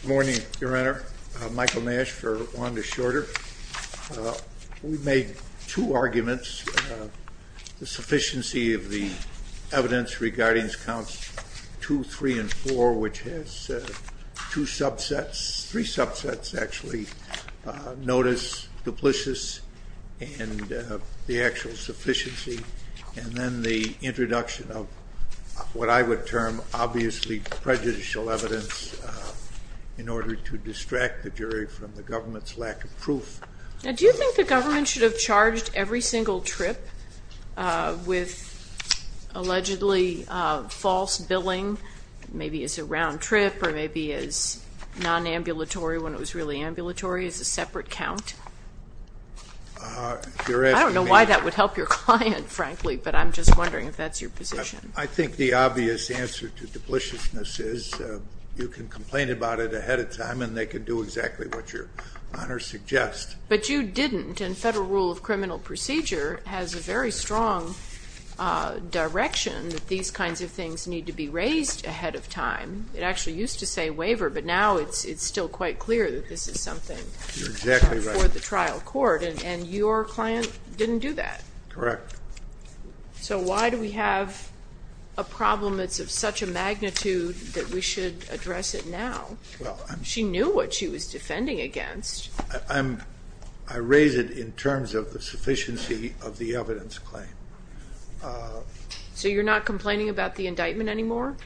Good morning, Your Honor. Michael Nash for Wanda Shorter. We made two arguments, the sufficiency of the evidence regarding counts two, three, and four, which has two subsets, three subsets actually, notice, duplicious, and the actual sufficiency, and then the introduction of what I would term obviously prejudicial evidence in order to distract the jury from the government's lack of proof. Do you think the government should have charged every single trip with allegedly false billing, maybe as a round-trip or maybe as non-ambulatory when it was really ambulatory, as a separate count? I don't know why that would help your client, frankly, but I'm just wondering if that's your position. I think the obvious answer to dupliciousness is you can complain about it ahead of time and they can do exactly what your Honor suggests. But you didn't, and federal rule of criminal procedure has a very strong direction that these kinds of things need to be raised ahead of time. It actually used to say waiver, but now it's it's still quite clear that this is something for the trial court, and your client didn't do that. Correct. So why do we have a problem that's of such a magnitude that we should address it now? She knew what she was defending against. I raise it in terms of the sufficiency of the evidence claim. So you're not complaining about the indictment anymore?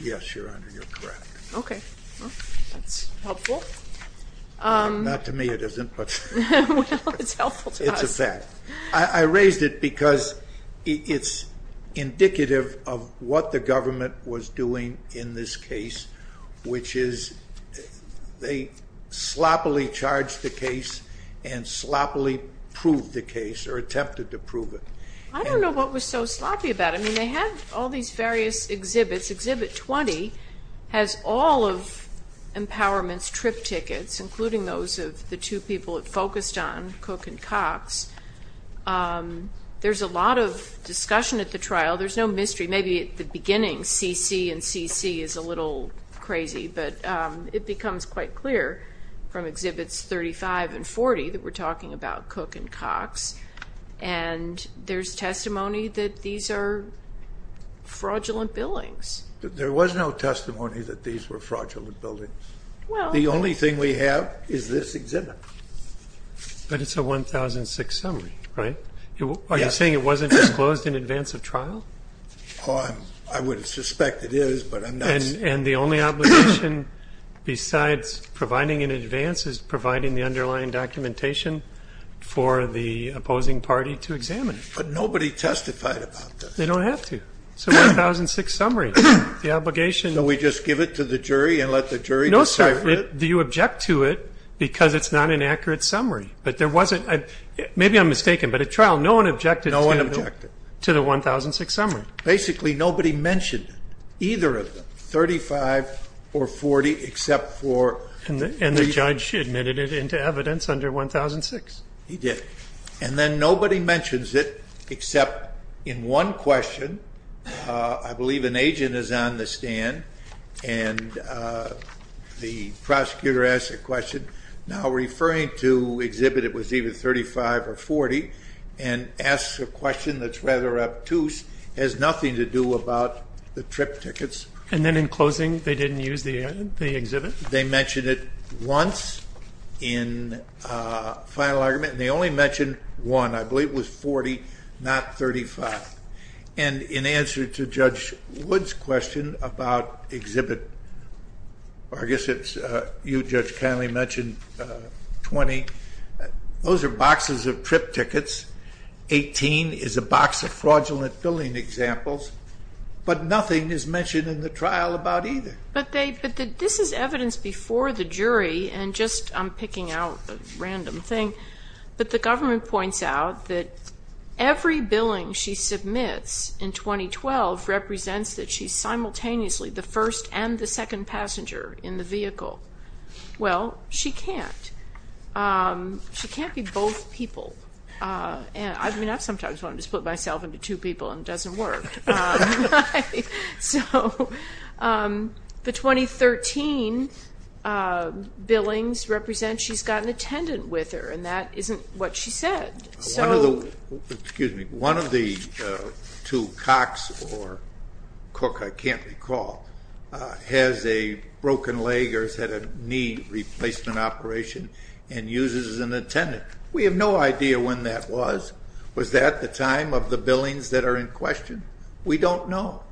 Yes, Your Honor, you're correct. Okay, that's helpful. Not to me it isn't, but it's a fact. I raised it because it's indicative of what the government was doing in this case, which is they sloppily charged the case and sloppily proved the case, or attempted to prove it. I don't know what was so sloppy about it. I mean, they had all these various exhibits. Exhibit 20 has all of Empowerment's trip tickets, including those of the two people it focused on, Cook and Cox. There's a lot of discussion at the trial. There's no mystery. Maybe at the beginning, CC and CC is a little crazy, but it becomes quite clear from Exhibits 35 and 40 that we're talking about Cook and Cox, and there's testimony that these are fraudulent billings. There was no testimony that these were fraudulent. The only thing we have is this exhibit. But it's a 1006 summary, right? Are you saying it wasn't disclosed in advance of trial? I would suspect it is, but I'm not sure. And the only obligation besides providing in advance is providing the underlying documentation for the opposing party to examine it. But nobody testified about that. They don't have to. It's a 1006 summary. The obligation... So we just give it to the jury and let the jury decide? No, sir. Do you object to it? Because it's not an accurate summary. But there wasn't... Maybe I'm mistaken, but at trial, no one objected to the 1006 summary. Basically, nobody mentioned either of them, 35 or 40, except for... And the judge admitted it into evidence under 1006. He did. And then nobody mentions it, except in one question. I believe an agent is on the stand, and the prosecutor asks a question. Now, referring to exhibit, it was either 35 or 40, and asks a question that's rather obtuse, has nothing to do about the trip tickets. And then in closing, they didn't use the exhibit? They mentioned it once in final argument, and they only mentioned one. I believe it was 40, not 35. And in answer to Judge Wood's question about exhibit, or I guess it's... You, Judge Connelly, mentioned 20. Those are boxes of trip tickets. 18 is a box of fraudulent billing examples. But nothing is mentioned in the trial about either. But they... But this is evidence before the jury, and just... I'm picking out a random thing. But the government points out that every billing she submits in 2012 represents that she's simultaneously the first and the second passenger in the vehicle. Well, she can't. She can't be both people. I mean, I've sometimes wanted to split myself into two people, and it doesn't work. So the 2013 billings represent she's got an attendant with her, and that isn't what she said. Excuse me. One of the two cocks, or cook, I can't recall, has a broken leg or has had a knee replacement operation and uses an attendant. We have no idea when that was. Was that the time of the billings that are in question? We don't know.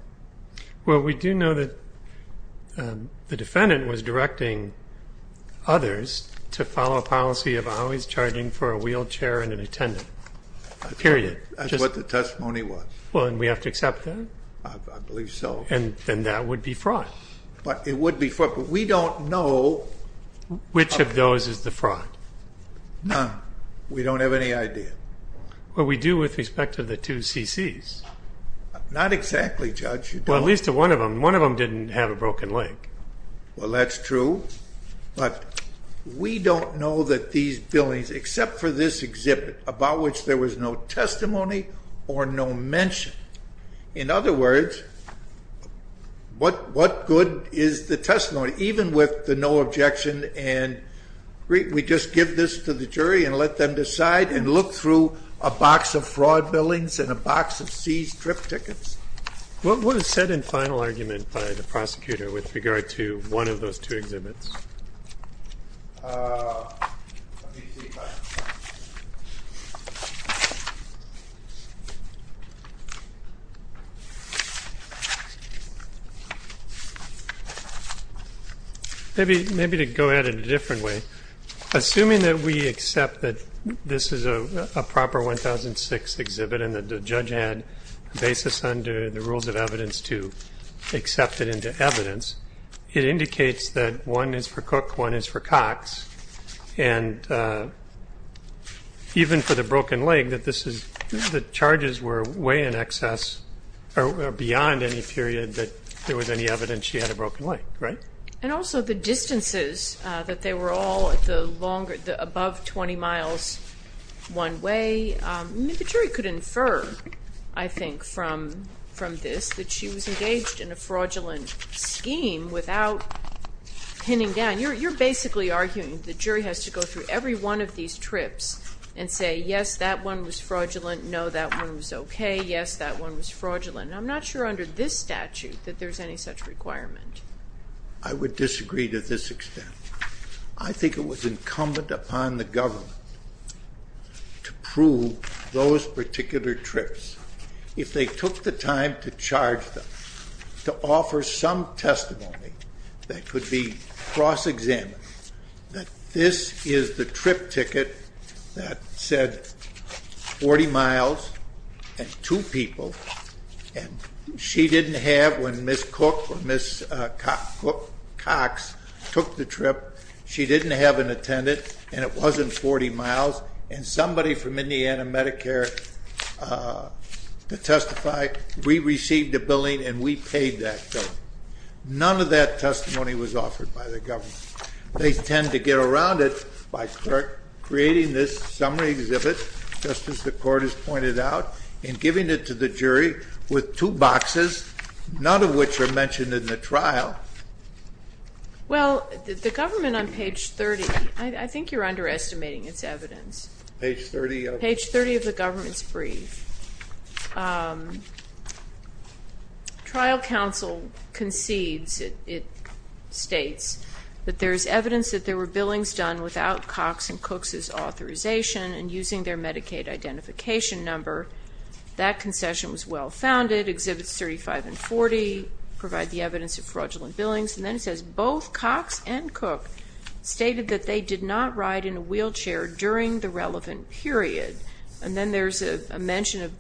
Well, we do know that the defendant was directing others to follow a policy of always charging for a wheelchair and an attendant. Period. That's what the testimony was. Well, and we have to accept that? I believe so. And that would be fraud. But it would be fraud. But we don't know... Which of those is the fraud? None. We don't have any idea. Well, we do with respect to the two CCs. Not exactly, Judge. Well, at least one of them. One of them didn't have a broken leg. Well, that's true. But we don't know that these billings, except for this exhibit, about which there was no testimony or no mention. In other words, what good is the testimony, even with the no objection and we just give this to the jury and let them decide and look through a box of fraud billings and a box of seized trip tickets? What is said in final argument by the prosecutor with regard to one of those two exhibits? Let me see. Maybe to go at it a different way. Assuming that we accept that this is a proper 1006 exhibit and that the judge had a basis under the rules of evidence to accept it into evidence, it indicates that one is for Cook, one is for Cox, and even for the broken leg, that the charges were way in excess or beyond any period that there was any evidence she had a broken leg, right? And also the distances, that they were all at the above 20 miles one way. The jury could infer, I think, from this that she was engaged in a fraudulent scheme without pinning down. You're basically arguing the jury has to go through every one of these trips and say, yes, that one was fraudulent, no, that one was okay, yes, that one was fraudulent. I'm not sure under this statute that there's any such requirement. I would disagree to this extent. I think it was incumbent upon the government to prove those particular trips. If they took the time to charge them, to offer some testimony that could be cross-examined, that this is the trip ticket that said 40 miles and two people, and she didn't have, when Ms. Cook or Ms. Cox took the trip, she didn't have an attendant, and it wasn't 40 miles, and somebody from Indiana Medicare to testify, we received a billing and we paid that bill. None of that testimony was offered by the government. They tend to get around it by creating this summary exhibit, just as the court has pointed out, and giving it to the jury with two boxes, none of which are mentioned in the trial. Well, the government on page 30, I think you're underestimating its evidence. Page 30 of? Page 30 of the government's brief. Trial counsel concedes, it states, that there's evidence that there were billings done without Cox and Cook's authorization and using their Medicaid identification number. That concession was well-founded. Exhibits 35 and 40 provide the evidence of fraudulent billings, and then it says both Cox and Cook stated that they did not ride in a wheelchair during the relevant period, and then there's a mention of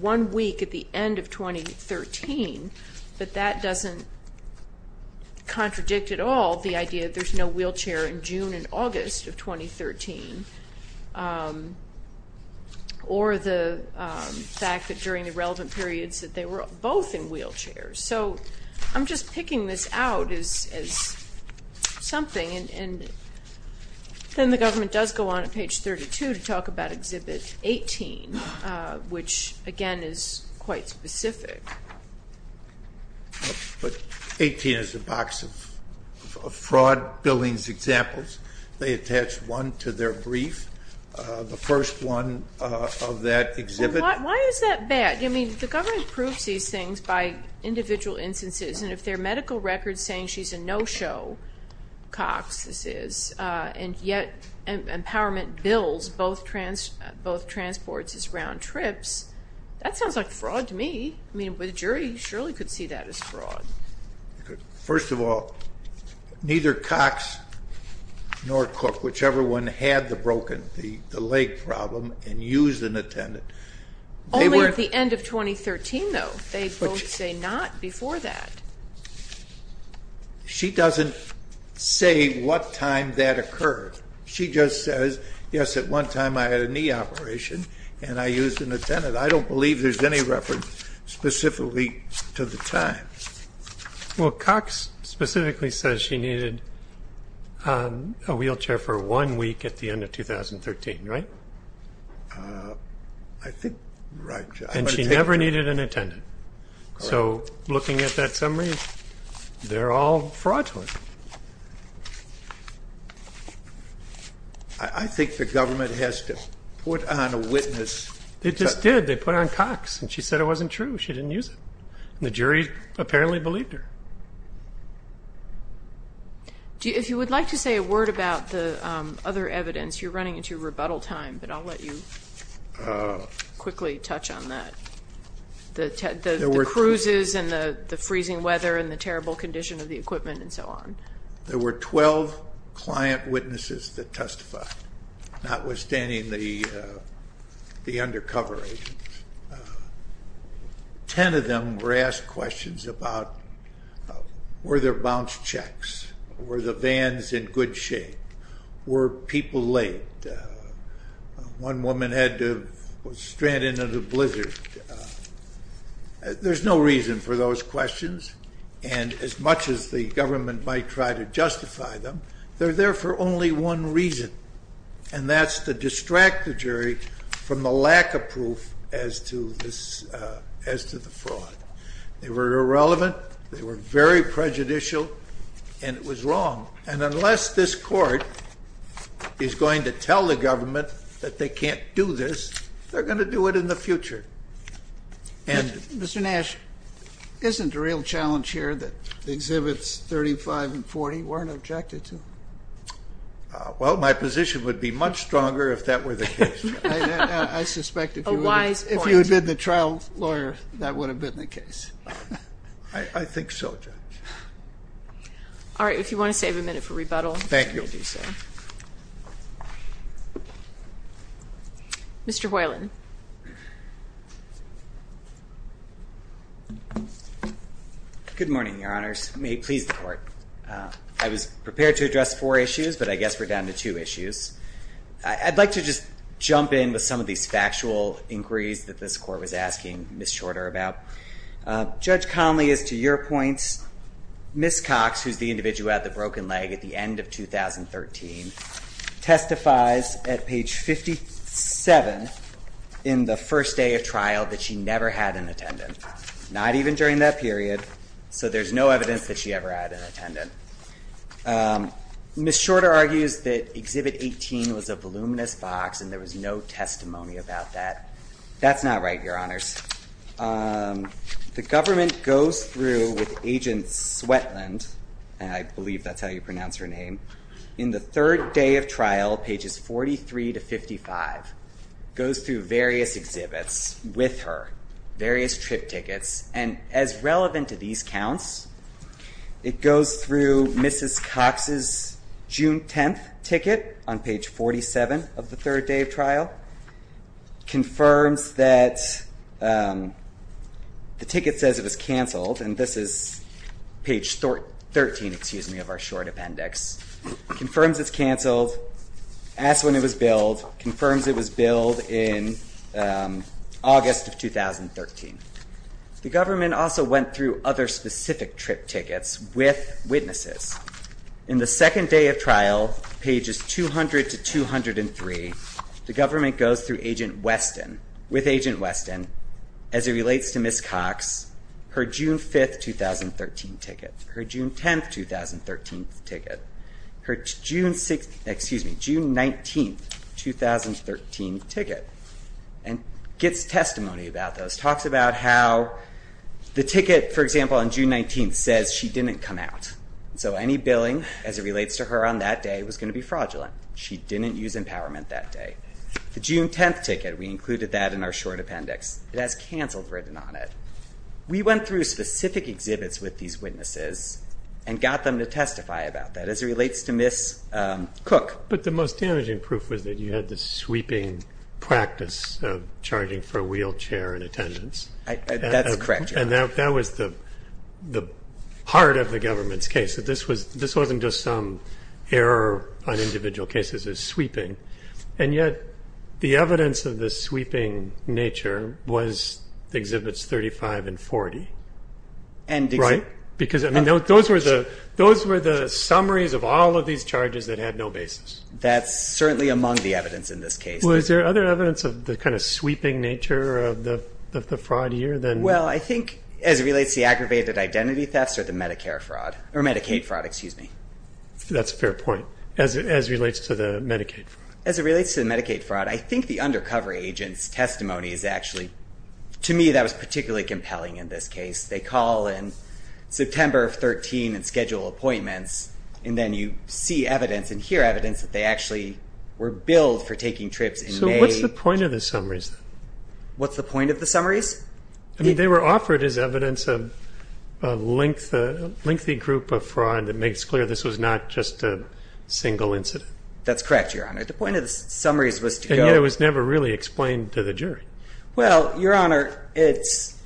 one week at the end of 2013, but that doesn't contradict at all the idea that there's no wheelchair in June and August of 2013, or the fact that during the relevant periods that they were both in wheelchairs. So I'm just picking this out as something, and then the government does go on at page 32 to talk about exhibit 18, which, again, is quite specific. But 18 is a box of fraud billings examples. They attach one to their brief, the first one of that exhibit. Well, why is that bad? I mean, the government proves these things by individual instances, and if their medical record's saying she's a no-show, Cox this is, and yet Empowerment bills both transports as round trips, that sounds like fraud to me. I mean, the jury surely could see that as fraud. First of all, neither Cox nor Cook, whichever one, had the broken, the leg problem, and used an attendant. Only at the end of 2013, though. They both say not before that. She doesn't say what time that occurred. She just says, yes, at one time I had a knee operation and I used an attendant. I don't believe there's any reference specifically to the time. Well, Cox specifically says she needed a wheelchair for one week at the end of 2013, right? I think, right. And she never needed an attendant. So looking at that summary, they're all fraud to her. I think the government has to put on a witness. It just did. They put on Cox, and she said it wasn't true. She didn't use it. And the jury apparently believed her. If you would like to say a word about the other evidence, you're running into rebuttal time, but I'll let you quickly touch on that. The cruises and the freezing weather and the terrible condition of the equipment and so on. There were 12 client witnesses that testified, notwithstanding the undercover agents. Ten of them were asked questions about, were there bounce checks? Were the vans in good shape? Were people late? One woman was stranded in a blizzard. There's no reason for those questions. And as much as the government might try to justify them, they're there for only one reason, and that's to distract the jury from the lack of proof as to the fraud. They were irrelevant. They were very prejudicial, and it was wrong. And unless this court is going to tell the government that they can't do this, they're going to do it in the future. Mr. Nash, isn't it a real challenge here that Exhibits 35 and 40 weren't objected to? Well, my position would be much stronger if that were the case. I suspect if you had been the trial lawyer, that would have been the case. I think so, Judge. All right. If you want to save a minute for rebuttal. Thank you. Mr. Hoyland. Good morning, Your Honors. May it please the Court. I was prepared to address four issues, but I guess we're down to two issues. I'd like to just jump in with some of these factual inquiries that this Court was asking Ms. Shorter about. Judge Conley, as to your points, Ms. Cox, who's the individual who had the broken leg at the end of 2013, testifies at page 57 in the first day of trial that she never had an attendant, not even during that period. So there's no evidence that she ever had an attendant. Ms. Shorter argues that Exhibit 18 was a voluminous box and there was no testimony about that. That's not right, Your Honors. The government goes through with Agent Swetland, and I believe that's how you pronounce her name, in the third day of trial, pages 43 to 55, goes through various exhibits with her, various trip tickets, and as relevant to these counts, it goes through Mrs. Cox's June 10th ticket on page 47 of the third day of trial, confirms that the ticket says it was canceled, and this is page 13, excuse me, of our short appendix, confirms it's canceled, asks when it was billed, confirms it was billed in August of 2013. The government also went through other specific trip tickets with witnesses. In the second day of trial, pages 200 to 203, the government goes through with Agent Weston, as it relates to Ms. Cox, her June 5th, 2013 ticket, her June 10th, 2013 ticket, her June 19th, 2013 ticket, and gets testimony about those, talks about how the ticket, for example, on June 19th says she didn't come out. So any billing, as it relates to her on that day, was going to be fraudulent. She didn't use empowerment that day. The June 10th ticket, we included that in our short appendix. It has canceled written on it. We went through specific exhibits with these witnesses and got them to testify about that, as it relates to Ms. Cook. But the most damaging proof was that you had the sweeping practice of charging for a wheelchair in attendance. That's correct, Your Honor. And that was the heart of the government's case, that this wasn't just some error on individual cases, it was sweeping. And yet the evidence of the sweeping nature was Exhibits 35 and 40. Right? Because those were the summaries of all of these charges that had no basis. That's certainly among the evidence in this case. Well, is there other evidence of the kind of sweeping nature of the fraud here? Well, I think as it relates to the aggravated identity thefts or the Medicare fraud, or Medicaid fraud, excuse me. That's a fair point, as it relates to the Medicaid fraud. As it relates to the Medicaid fraud, I think the undercover agent's testimony is actually, to me, that was particularly compelling in this case. They call in September of 2013 and schedule appointments, and then you see evidence and hear evidence that they actually were billed for taking trips in May. So what's the point of the summaries? What's the point of the summaries? I mean, they were offered as evidence of a lengthy group of fraud that makes clear this was not just a single incident. That's correct, Your Honor. The point of the summaries was to go. And yet it was never really explained to the jury. Well, Your Honor, it's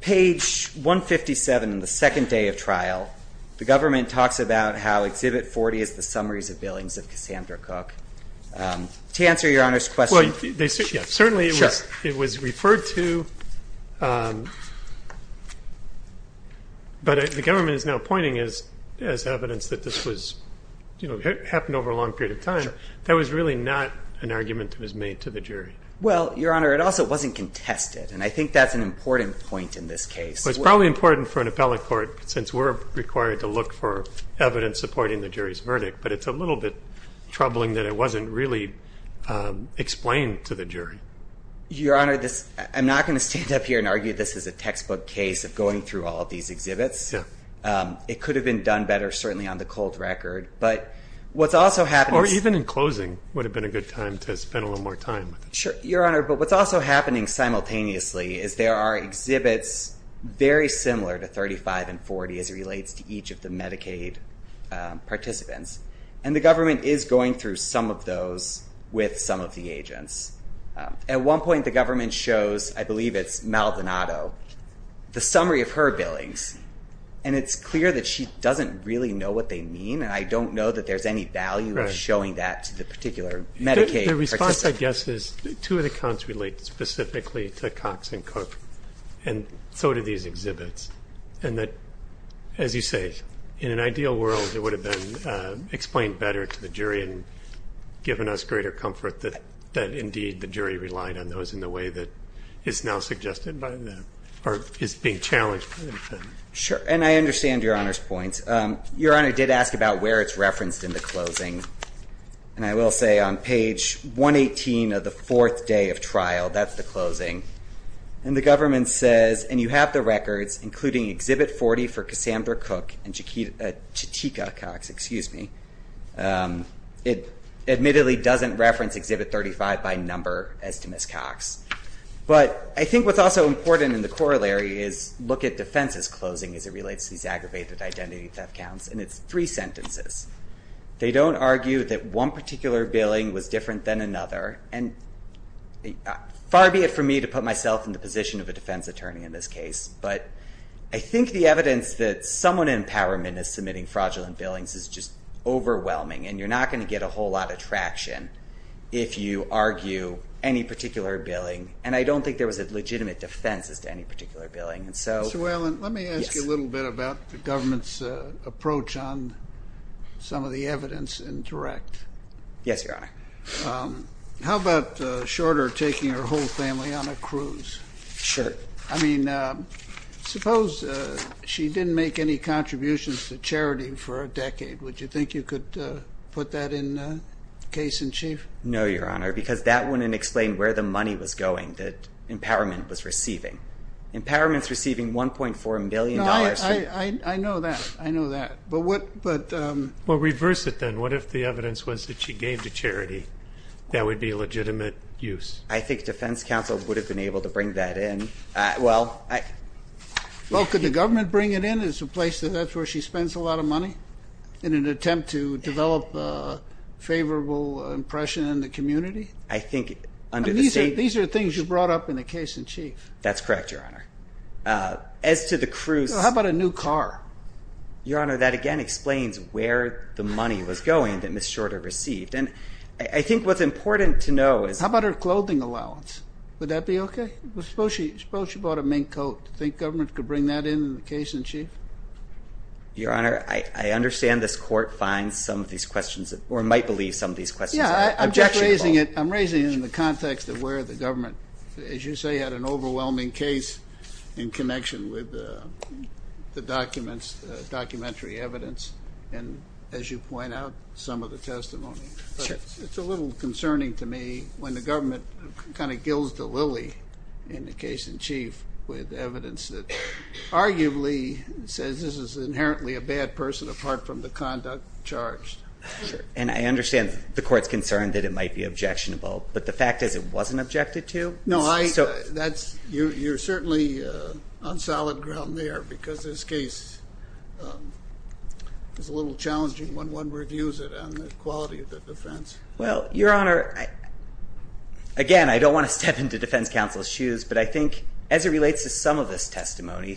page 157 in the second day of trial. The government talks about how Exhibit 40 is the summaries of billings of Cassandra Cook. To answer Your Honor's question. Certainly it was referred to, but the government is now pointing as evidence that this happened over a long period of time. That was really not an argument that was made to the jury. Well, Your Honor, it also wasn't contested, and I think that's an important point in this case. It's probably important for an appellate court, since we're required to look for evidence supporting the jury's verdict, but it's a little bit troubling that it wasn't really explained to the jury. Your Honor, I'm not going to stand up here and argue this is a textbook case of going through all of these exhibits. Yeah. It could have been done better, certainly on the cold record, but what's also happening. Or even in closing would have been a good time to spend a little more time with it. Sure, Your Honor, but what's also happening simultaneously is there are exhibits very similar to 35 and 40 as it relates to each of the Medicaid participants, and the government is going through some of those with some of the agents. At one point, the government shows, I believe it's Maldonado, the summary of her billings, and it's clear that she doesn't really know what they mean, and I don't know that there's any value of showing that to the particular Medicaid participant. My guess is two of the counts relate specifically to Cox and Cook, and so do these exhibits, and that, as you say, in an ideal world, it would have been explained better to the jury and given us greater comfort that, indeed, the jury relied on those in the way that is now suggested by them or is being challenged by the defendant. Sure, and I understand Your Honor's points. Your Honor did ask about where it's referenced in the closing, and I will say on page 118 of the fourth day of trial, that's the closing, and the government says, and you have the records including Exhibit 40 for Cassandra Cook and Chatika Cox, excuse me. It admittedly doesn't reference Exhibit 35 by number as to Ms. Cox, but I think what's also important in the corollary is look at defense's closing as it relates to these aggravated identity theft counts, and it's three sentences. They don't argue that one particular billing was different than another, and far be it from me to put myself in the position of a defense attorney in this case, but I think the evidence that someone in empowerment is submitting fraudulent billings is just overwhelming, and you're not going to get a whole lot of traction if you argue any particular billing, and I don't think there was a legitimate defense as to any particular billing. Mr. Whalen, let me ask you a little bit about the government's approach on some of the evidence in direct. Yes, Your Honor. How about Shorter taking her whole family on a cruise? Sure. I mean, suppose she didn't make any contributions to charity for a decade. Would you think you could put that in case in chief? No, Your Honor, because that wouldn't explain where the money was going that empowerment was receiving. Empowerment's receiving $1.4 million. No, I know that. I know that. But what? Well, reverse it then. What if the evidence was that she gave to charity? That would be a legitimate use. I think defense counsel would have been able to bring that in. Well, could the government bring it in as a place that's where she spends a lot of money? In an attempt to develop a favorable impression in the community? I think under the state. These are things you brought up in the case in chief. That's correct, Your Honor. As to the cruise. How about a new car? Your Honor, that, again, explains where the money was going that Ms. Shorter received. And I think what's important to know is... How about her clothing allowance? Would that be okay? Suppose she bought a mink coat. Do you think government could bring that in in the case in chief? Your Honor, I understand this court finds some of these questions... Or might believe some of these questions. Yeah, I'm just raising it. I'm raising it in the context of where the government, as you say, had an overwhelming case... in connection with the documents, the documentary evidence. And, as you point out, some of the testimony. But it's a little concerning to me when the government kind of gills the lily in the case in chief... And says this is inherently a bad person apart from the conduct charged. And I understand the court's concern that it might be objectionable. But the fact is it wasn't objected to. No, I... So... You're certainly on solid ground there. Because this case is a little challenging when one reviews it on the quality of the defense. Well, Your Honor... Again, I don't want to step into defense counsel's shoes. But I think as it relates to some of this testimony...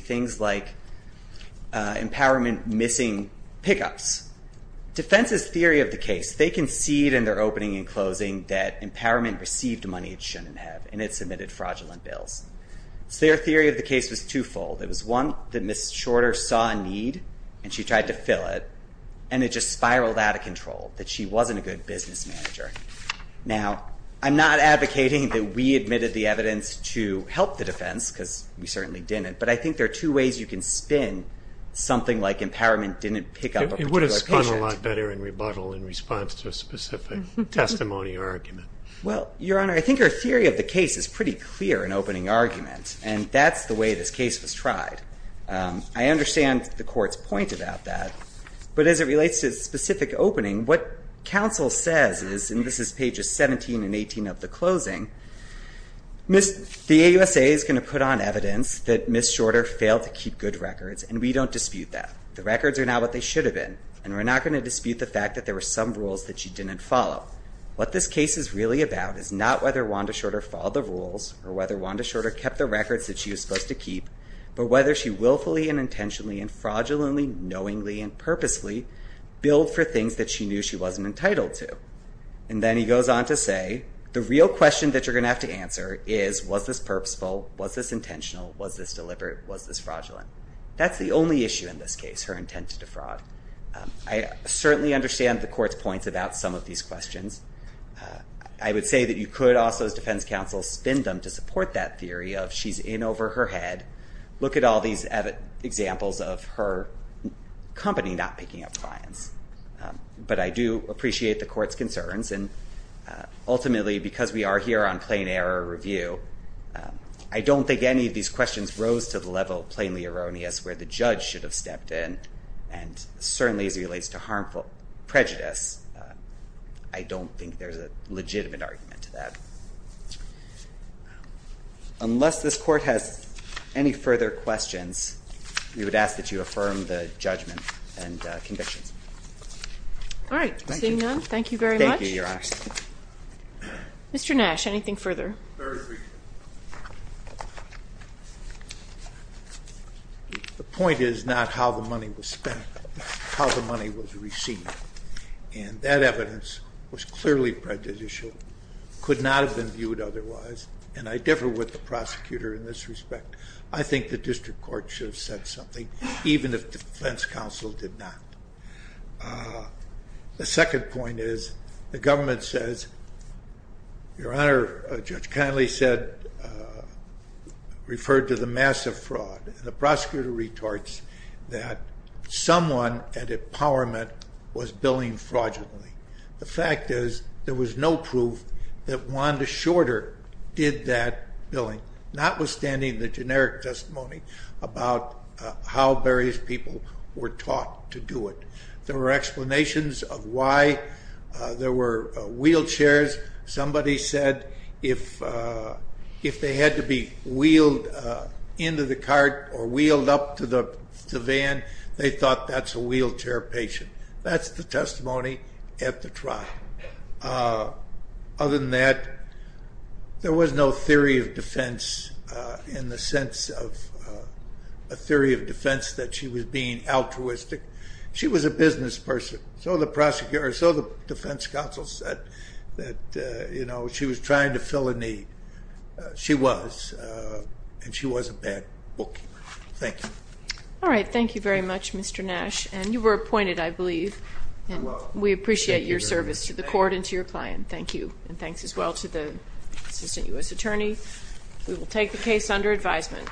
Empowerment missing pickups. Defense's theory of the case. They concede in their opening and closing that Empowerment received money it shouldn't have. And it submitted fraudulent bills. So their theory of the case was twofold. It was one, that Ms. Shorter saw a need. And she tried to fill it. And it just spiraled out of control. That she wasn't a good business manager. Now, I'm not advocating that we admitted the evidence to help the defense. Because we certainly didn't. But I think there are two ways you can spin something like Empowerment didn't pick up a particular patient. It would have spun a lot better in rebuttal in response to a specific testimony or argument. Well, Your Honor... I think our theory of the case is pretty clear in opening argument. And that's the way this case was tried. I understand the Court's point about that. But as it relates to specific opening... What counsel says is... And this is pages 17 and 18 of the closing. The AUSA is going to put on evidence that Ms. Shorter failed to keep good records. And we don't dispute that. The records are now what they should have been. And we're not going to dispute the fact that there were some rules that she didn't follow. What this case is really about is not whether Wanda Shorter followed the rules. Or whether Wanda Shorter kept the records that she was supposed to keep. But whether she willfully and intentionally and fraudulently, knowingly and purposely... Billed for things that she knew she wasn't entitled to. And then he goes on to say... The real question that you're going to have to answer is... Was this purposeful? Was this intentional? Was this deliberate? Was this fraudulent? That's the only issue in this case. Her intent to defraud. I certainly understand the Court's points about some of these questions. I would say that you could also, as defense counsel, spin them to support that theory of... She's in over her head. But I do appreciate the Court's concerns. Ultimately, because we are here on plain error review... I don't think any of these questions rose to the level of plainly erroneous... Where the judge should have stepped in. And certainly as it relates to harmful prejudice... I don't think there's a legitimate argument to that. Unless this Court has any further questions... We would ask that you affirm the judgment and convictions. All right. Seeing none. Thank you very much. Mr. Nash, anything further? The point is not how the money was spent. How the money was received. And that evidence was clearly prejudicial. Could not have been viewed otherwise. And I differ with the prosecutor in this respect. I think the District Court should have said something. Even if defense counsel did not. The second point is... The government says... Your Honor, Judge Connolly said... Referred to the massive fraud. And the prosecutor retorts... That someone at Empowerment was billing fraudulently. The fact is... There was no proof that Wanda Shorter did that billing. Notwithstanding the generic testimony... About how various people were taught to do it. There were explanations of why. There were wheelchairs. Somebody said... If they had to be wheeled into the cart... Or wheeled up to the van... They thought that's a wheelchair patient. That's the testimony at the trial. Other than that... There was no theory of defense. In the sense of... A theory of defense that she was being altruistic. She was a business person. So the defense counsel said... That she was trying to fill a need. She was. And she was a bad bookkeeper. Thank you. All right. Thank you very much, Mr. Nash. And you were appointed, I believe. I was. We appreciate your service to the court and to your client. Thank you. And thanks as well to the Assistant U.S. Attorney. We will take the case under advisement.